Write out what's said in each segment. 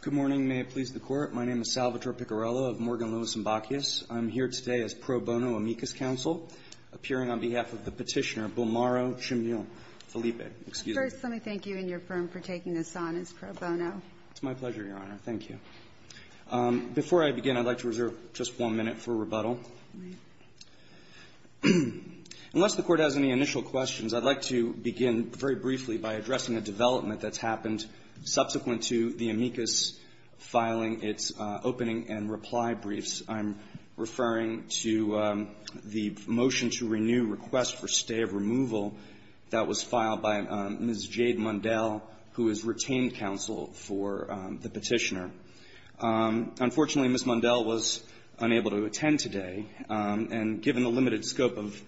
Good morning, may it please the Court. My name is Salvatore Piccarello of Morgan Lewis & Bacchius. I'm here today as pro bono amicus counsel, appearing on behalf of the Petitioner, Bulmaro Chimbile. First, let me thank you and your firm for taking this on as pro bono. It's my pleasure, Your Honor. Thank you. Before I begin, I'd like to reserve just one minute for rebuttal. All right. Unless the Court has any initial questions, I'd like to begin very briefly by addressing a development that's happened subsequent to the amicus filing its opening and reply briefs. I'm referring to the motion to renew request for stay of removal that was filed by Ms. Jade Mundell, who is retained counsel for the Petitioner. Unfortunately, Ms. Mundell was unable to attend today. And given the limited scope of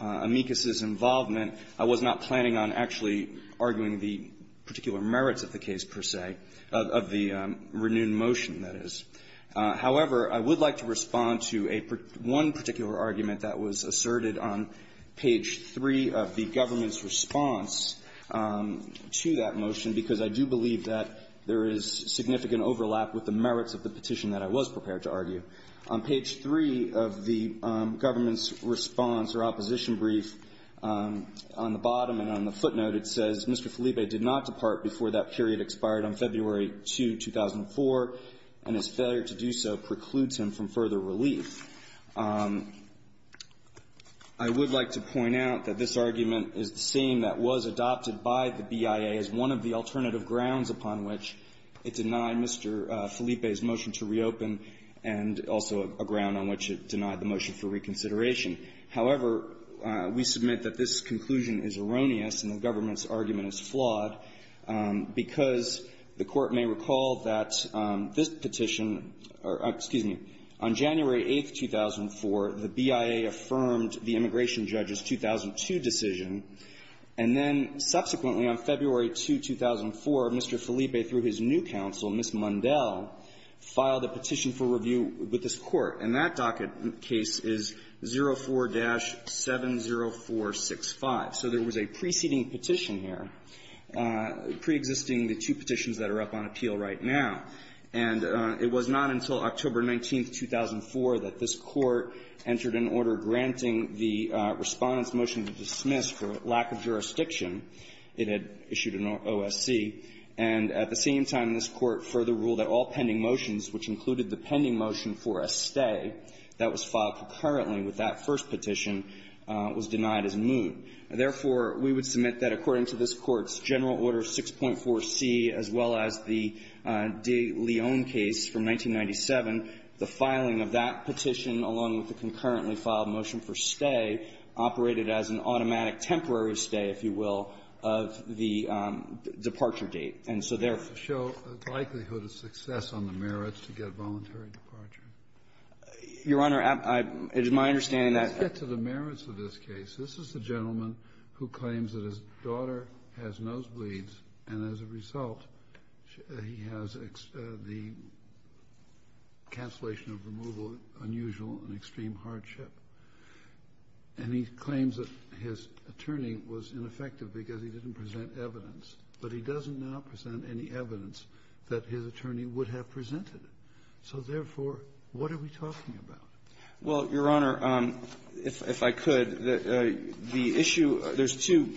amicus's involvement, I was not planning on actually arguing the particular merits of the case, per se, of the renewed motion, that is. However, I would like to respond to a one particular argument that was asserted on page 3 of the government's response to that motion, because I do believe that there is significant overlap with the merits of the petition that I was prepared to argue. On page 3 of the government's response or opposition brief, on the bottom and on the footnote, it says, Mr. Felipe did not depart before that period expired on February 2, 2004, and his failure to do so precludes him from further relief. I would like to point out that this argument is the same that was adopted by the BIA as one of the alternative grounds upon which it denied Mr. Felipe's motion to reconsider, and also a ground on which it denied the motion for reconsideration. However, we submit that this conclusion is erroneous, and the government's argument is flawed, because the Court may recall that this petition or, excuse me, on January 8, 2004, the BIA affirmed the immigration judge's 2002 decision, and then subsequently on February 2, 2004, Mr. Felipe, through his new counsel, Ms. Mundell, filed a petition for review with this Court. And that docket case is 04-70465. So there was a preceding petition here, preexisting the two petitions that are up on appeal right now. And it was not until October 19, 2004, that this Court entered an order granting the Respondent's motion to dismiss for lack of jurisdiction. It had issued an OSC. And at the same time, this Court further ruled that all pending motions, which included the pending motion for a stay, that was filed concurrently with that first petition, was denied as moot. Therefore, we would submit that according to this Court's General Order 6.4c, as well as the De Leon case from 1997, the filing of that petition, along with the concurrently motion for stay, operated as an automatic temporary stay, if you will, of the departure date. And so therefore ---- Kennedy, to show the likelihood of success on the merits to get voluntary departure. Your Honor, it is my understanding that ---- Let's get to the merits of this case. This is a gentleman who claims that his daughter has nosebleeds, and as a result, he has the cancellation of removal, unusual and extreme hardship. And he claims that his attorney was ineffective because he didn't present evidence. But he doesn't now present any evidence that his attorney would have presented. So therefore, what are we talking about? Well, Your Honor, if I could, the issue ---- there's two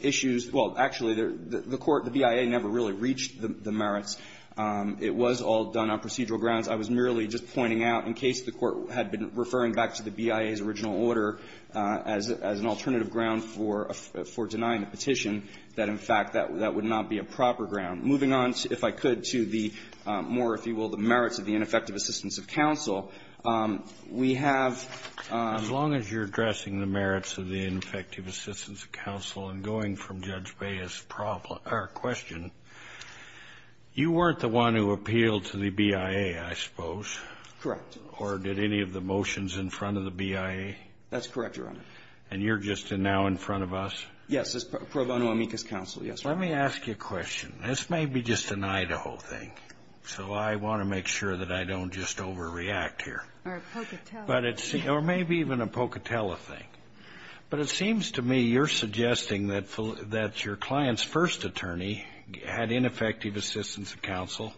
issues. Well, actually, the court, the BIA, never really reached the merits. It was all done on procedural grounds. I was merely just pointing out, in case the court had been referring back to the BIA's original order as an alternative ground for denying the petition, that, in fact, that would not be a proper ground. Moving on, if I could, to the more, if you will, the merits of the ineffective assistance of counsel, we have ---- As long as you're addressing the merits of the ineffective assistance of counsel and going from Judge Baez's question, you weren't the one who appealed to the BIA, I suppose. Correct. Or did any of the motions in front of the BIA? That's correct, Your Honor. And you're just now in front of us? Yes. As pro bono amicus counsel, yes, Your Honor. Let me ask you a question. This may be just an Idaho thing, so I want to make sure that I don't just overreact here. Or a Pocatello thing. Or maybe even a Pocatello thing. But it seems to me you're suggesting that your client's first attorney had ineffective assistance of counsel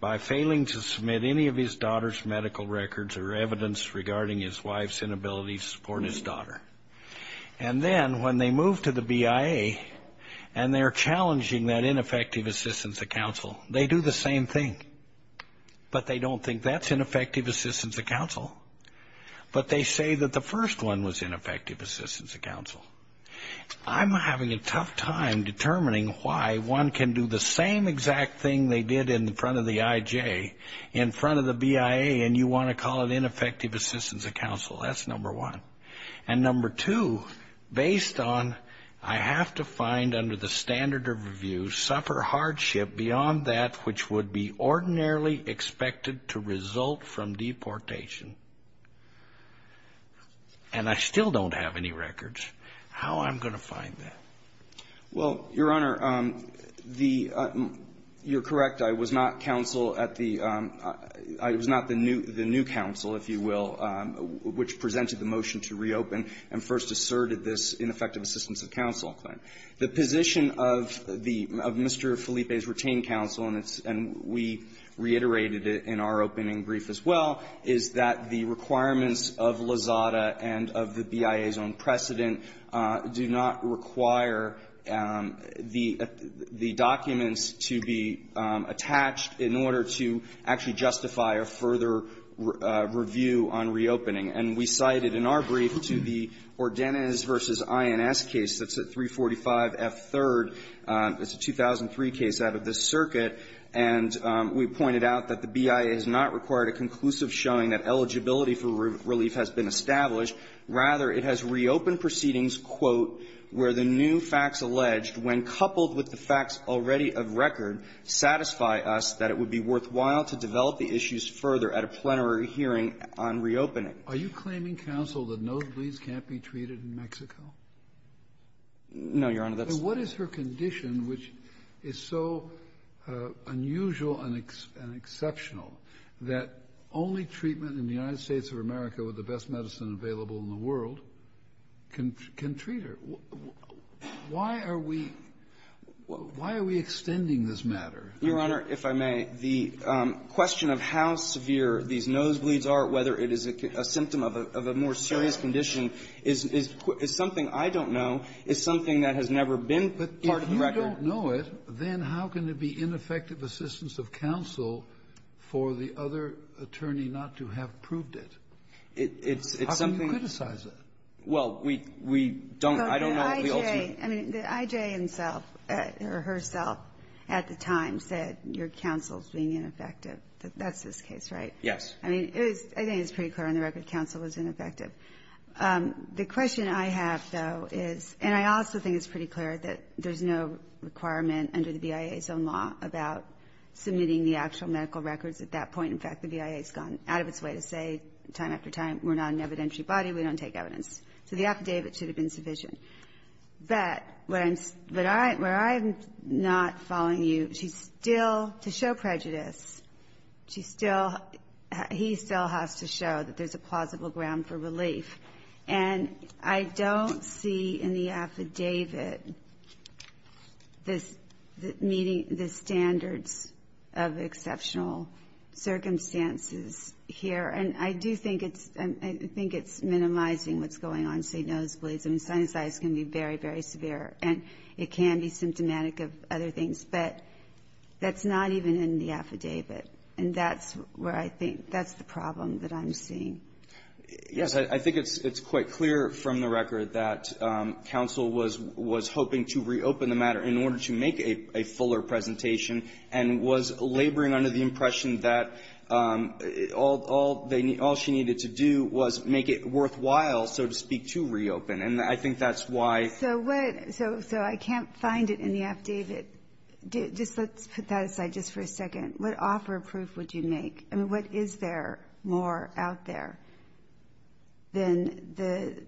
by failing to submit any of his daughter's medical records or evidence regarding his wife's inability to support his daughter. And then when they move to the BIA and they're challenging that ineffective assistance of counsel, they do the same thing. But they don't think that's ineffective assistance of counsel. But they say that the first one was ineffective assistance of counsel. I'm having a tough time determining why one can do the same exact thing they did in front of the IJ, in front of the BIA, and you want to call it ineffective assistance of counsel. That's number one. And number two, based on I have to find under the standard of review, suffer hardship beyond that which would be ordinarily expected to result from deportation, and I still don't have any records, how I'm going to find that? Well, Your Honor, the you're correct. I was not counsel at the I was not the new the new counsel, if you will, which presented the motion to reopen and first asserted this ineffective assistance of counsel claim. The position of the of Mr. Felipe's retained counsel, and it's and we reiterated it in our opening brief as well, is that the requirements of Lozada and of the BIA's own precedent do not require the the documents to be attached in order to actually justify a further review on reopening. And we cited in our brief to the Ordenez v. INS case that's at 345F3rd. It's a 2003 case out of this circuit. And we pointed out that the BIA has not required a conclusive showing that eligibility for relief has been established. Rather, it has reopened proceedings, quote, where the new facts alleged, when coupled with the facts already of record, satisfy us that it would be worthwhile to develop the issues further at a plenary hearing on reopening. Are you claiming, counsel, that no fleas can't be treated in Mexico? No, Your Honor. What is her condition, which is so unusual and exceptional that only treatment in the United States of America with the best medicine available in the world can treat her? Why are we why are we extending this matter? Your Honor, if I may, the question of how severe these nosebleeds are, whether it is a symptom of a more serious condition, is something I don't know, is something that has never been part of the record. But if you don't know it, then how can it be ineffective assistance of counsel for the other attorney not to have proved it? It's something we don't I don't know the ultimate the IJ himself or herself at the time said your counsel's being ineffective. That's this case, right? Yes. I mean, it was I think it's pretty clear on the record counsel was ineffective. The question I have, though, is and I also think it's pretty clear that there's no requirement under the BIA's own law about submitting the actual medical records. At that point, in fact, the BIA has gone out of its way to say time after time, we're not an evidentiary body, we don't take evidence. So the affidavit should have been sufficient. But where I'm where I'm not following you, she's still to show prejudice, she still he still has to show that there's a plausible ground for relief. And I don't see in the affidavit this meeting the standards of exceptional circumstances here, and I do think it's I think it's minimizing what's going on, say nosebleeds. I mean, sinusitis can be very, very severe and it can be symptomatic of other things. But that's not even in the affidavit. And that's where I think that's the problem that I'm seeing. Yes. I think it's quite clear from the record that counsel was hoping to reopen the matter in order to make a fuller presentation and was laboring under the impression that all she needed to do was make it worthwhile, so to speak, to reopen. And I think that's why. So what so I can't find it in the affidavit. Just let's put that aside just for a second. What offer of proof would you make? I mean, what is there more out there than the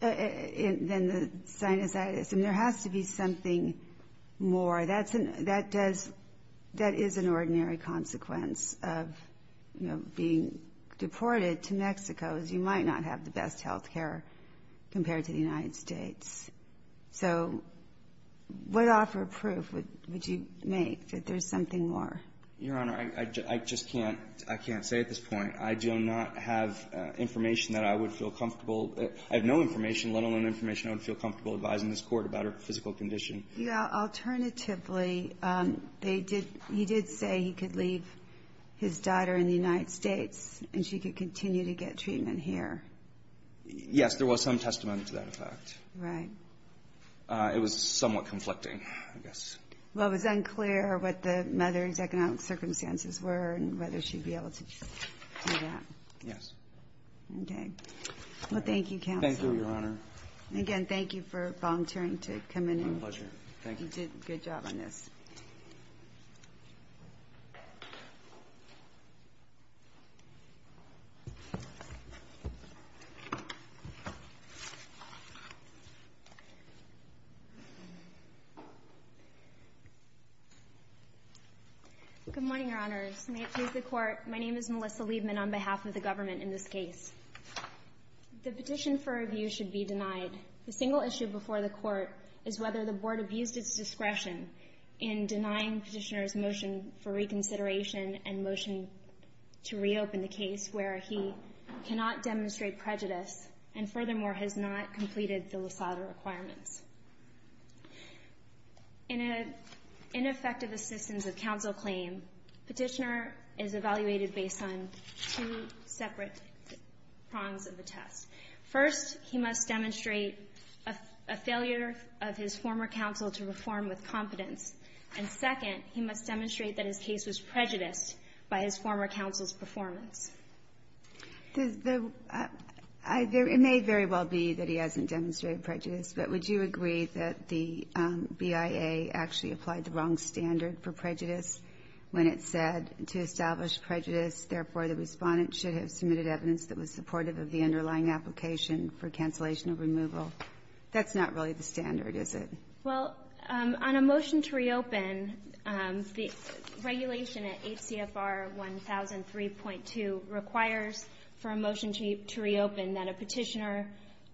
than the sinusitis? And there has to be something more. That's that does that is an ordinary consequence of being deported to Mexico, as you might not have the best health care compared to the United States. So what offer of proof would you make that there's something more? Your Honor, I just can't I can't say at this point. I do not have information that I would feel comfortable. I have no information, let alone information I would feel comfortable advising this court about her physical condition. Yeah. Alternatively, they did. He did say he could leave his daughter in the United States and she could continue to get treatment here. Yes, there was some testimony to that effect. Right. It was somewhat conflicting, I guess. Well, it was unclear what the mother's economic circumstances were and whether she'd be able to do that. Yes. OK. Well, thank you, counsel. Thank you, Your Honor. Again, thank you for volunteering to come in. My pleasure. Thank you. You did a good job on this. Good morning, Your Honors. May it please the Court, my name is Melissa Liebman on behalf of the government in this case. The petition for review should be denied. The single issue before the Court is whether the Board abused its discretion in denying Petitioner's motion for reconsideration and motion to reopen the case, where he cannot demonstrate prejudice and, furthermore, has not completed the LASADA requirements. In an ineffective assistance of counsel claim, Petitioner is evaluated based on two separate prongs of the test. First, he must demonstrate a failure of his former counsel to reform with competence. And second, he must demonstrate that his case was prejudiced by his former counsel's performance. The — it may very well be that he hasn't demonstrated prejudice, but would you agree that the BIA actually applied the wrong standard for prejudice when it said, to establish prejudice, therefore, the Respondent should have submitted evidence that was supportive of the underlying application for cancellation of removal? That's not really the standard, is it? Well, on a motion to reopen, the regulation at HCFR 1003.2 requires for a motion to reopen that a Petitioner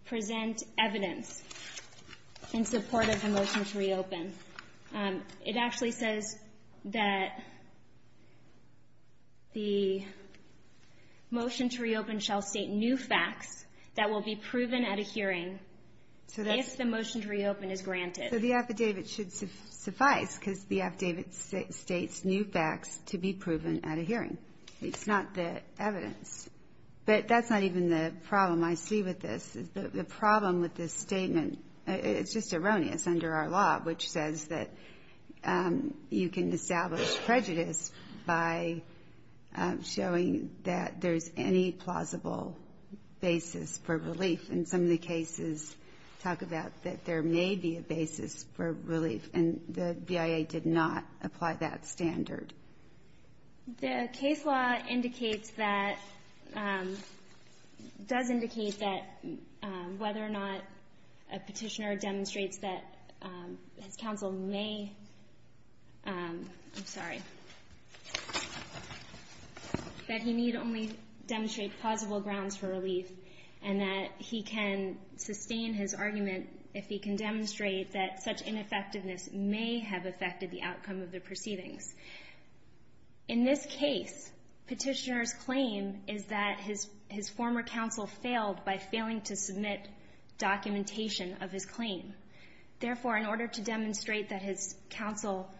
present evidence in support of the motion to reopen. It actually says that the motion to reopen shall state new facts that will be proven at a hearing if the motion to reopen is granted. So the affidavit should suffice, because the affidavit states new facts to be proven at a hearing. It's not the evidence. But that's not even the problem I see with this. The problem with this statement, it's just erroneous under our law, which says that you can establish prejudice by showing that there's any plausible basis for relief. And some of the cases talk about that there may be a basis for relief, and the BIA did not apply that standard. The case law indicates that, does indicate that, whether or not a Petitioner demonstrates that his counsel may, I'm sorry, that he need only demonstrate plausible grounds for relief, and that he can sustain his argument if he can demonstrate that such ineffectiveness may have affected the outcome of the proceedings. In this case, Petitioner's claim is that his former counsel failed by failing to submit documentation of his claim. Therefore, in order to demonstrate that his counsel,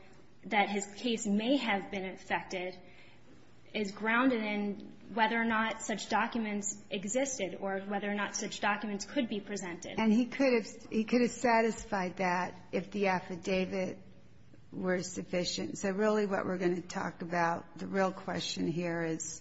that his case may have been affected, is grounded in whether or not such documents existed or whether or not such documents could be presented. And he could have satisfied that if the affidavit were sufficient. So really what we're going to talk about, the real question here is,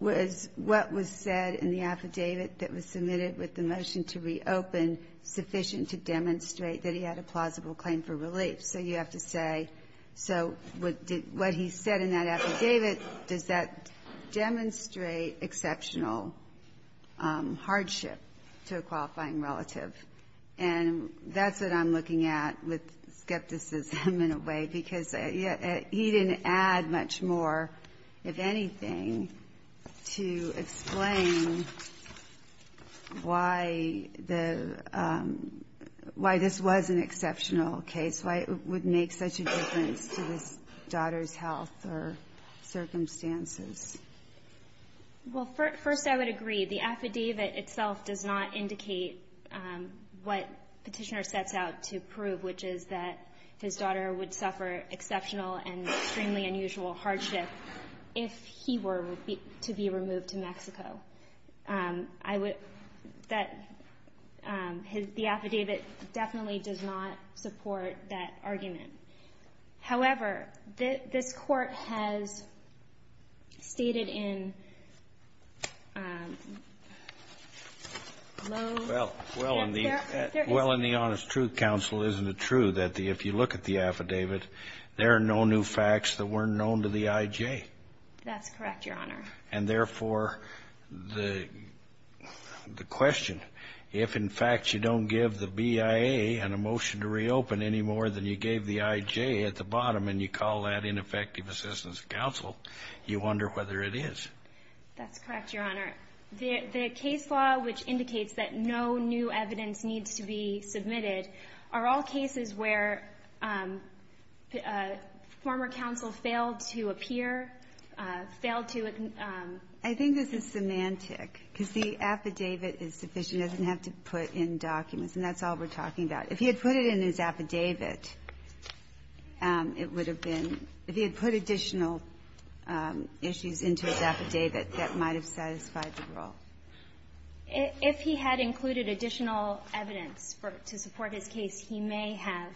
was what was said in the affidavit that was submitted with the motion to reopen sufficient to demonstrate that he had a plausible claim for relief? So you have to say, so what he said in that affidavit, does that demonstrate exceptional hardship to a qualifying relative? And that's what I'm looking at with skepticism in a way, because he didn't add much more, if anything, to explain why the, why this was an exceptional case, why it would make such a difference to his daughter's health or circumstances. Well, first I would agree. The affidavit itself does not indicate what Petitioner sets out to prove, which is that his daughter would suffer exceptional and extremely unusual hardship if he were to be removed to Mexico. I would, that, the affidavit definitely does not support that argument. However, this Court has stated in low, well, there isn't. Well, in the honest truth counsel, isn't it true that if you look at the affidavit, there are no new facts that weren't known to the I.J.? That's correct, Your Honor. And therefore, the question, if in fact you don't give the BIA an emotion to reopen any more than you gave the I.J. at the bottom, and you call that ineffective assistance of counsel, you wonder whether it is. That's correct, Your Honor. The case law, which indicates that no new evidence needs to be submitted, are all cases where former counsel failed to appear, failed to admit the facts. I think this is semantic, because the affidavit is sufficient. It doesn't have to put in documents, and that's all we're talking about. If he had put it in his affidavit, it would have been, if he had put additional issues into his affidavit, that might have satisfied the role. If he had included additional evidence to support his case, he may have,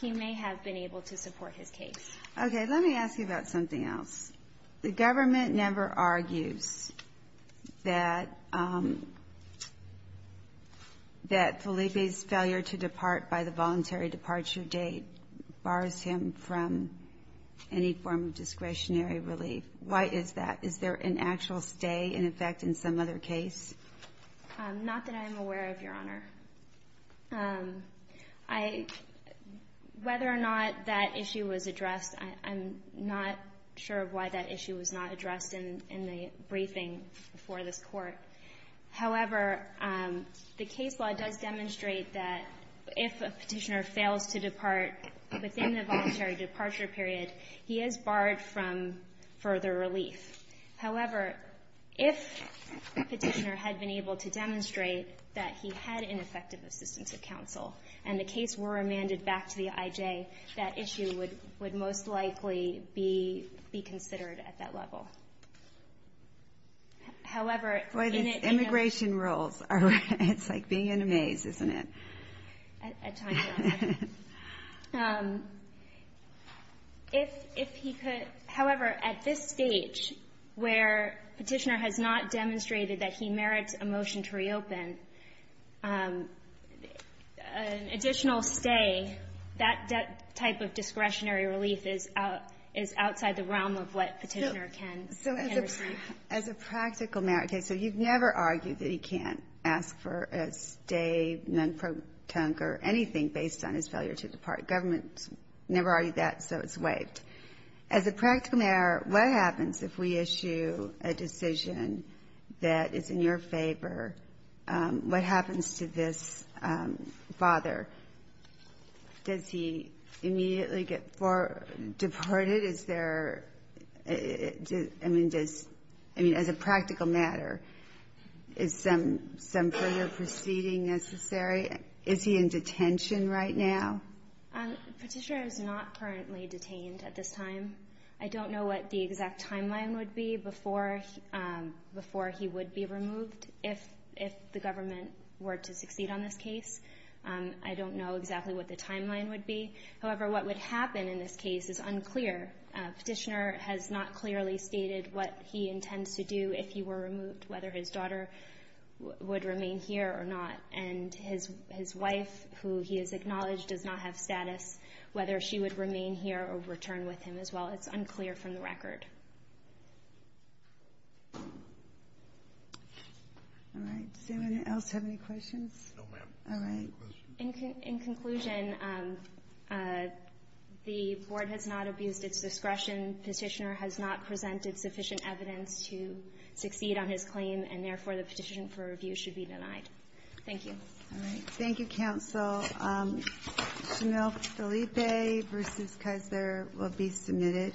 he may have been able to support his case. Okay. Let me ask you about something else. The government never argues that Felipe's failure to depart by the voluntary departure date bars him from any form of discretionary relief. Why is that? Is there an actual stay, in effect, in some other case? Not that I'm aware of, Your Honor. I — whether or not that issue was addressed, I'm not sure of why that issue was not addressed in the briefing before this Court. However, the case law does demonstrate that if a Petitioner fails to depart within the voluntary departure period, he is barred from further relief. However, if the Petitioner had been able to demonstrate that he had ineffective assistance of counsel, and the case were remanded back to the IJ, that issue would most likely be considered at that level. However, in it — Boy, these immigration rules are — it's like being in a maze, isn't it? At times, Your Honor. If he could — however, at this stage, where Petitioner has not demonstrated that he merits a motion to reopen, an additional stay, that type of discretionary relief is outside the realm of what Petitioner can receive. As a practical matter — okay, so you've never argued that he can't ask for a stay, non-protonque, or anything based on his failure to depart. Government's never argued that, so it's waived. As a practical matter, what happens if we issue a decision that is in your favor? What happens to this father? Does he immediately get deported? Is there — I mean, does — I mean, as a practical matter, is some further proceeding necessary? Is he in detention right now? Petitioner is not currently detained at this time. I don't know what the exact timeline would be before he would be removed, if the government were to succeed on this case. I don't know exactly what the timeline would be. However, what would happen in this case is unclear. Petitioner has not clearly stated what he intends to do if he were removed, whether his daughter would remain here or not. And his wife, who he has acknowledged does not have status, whether she would remain here or return with him as well, it's unclear from the record. All right. Does anyone else have any questions? No, ma'am. All right. In conclusion, the board has not abused its discretion. Petitioner has not presented sufficient evidence to succeed on his claim, and therefore, the petition for review should be denied. Thank you. Thank you, counsel. Shamil Felipe versus Kessler will be submitted.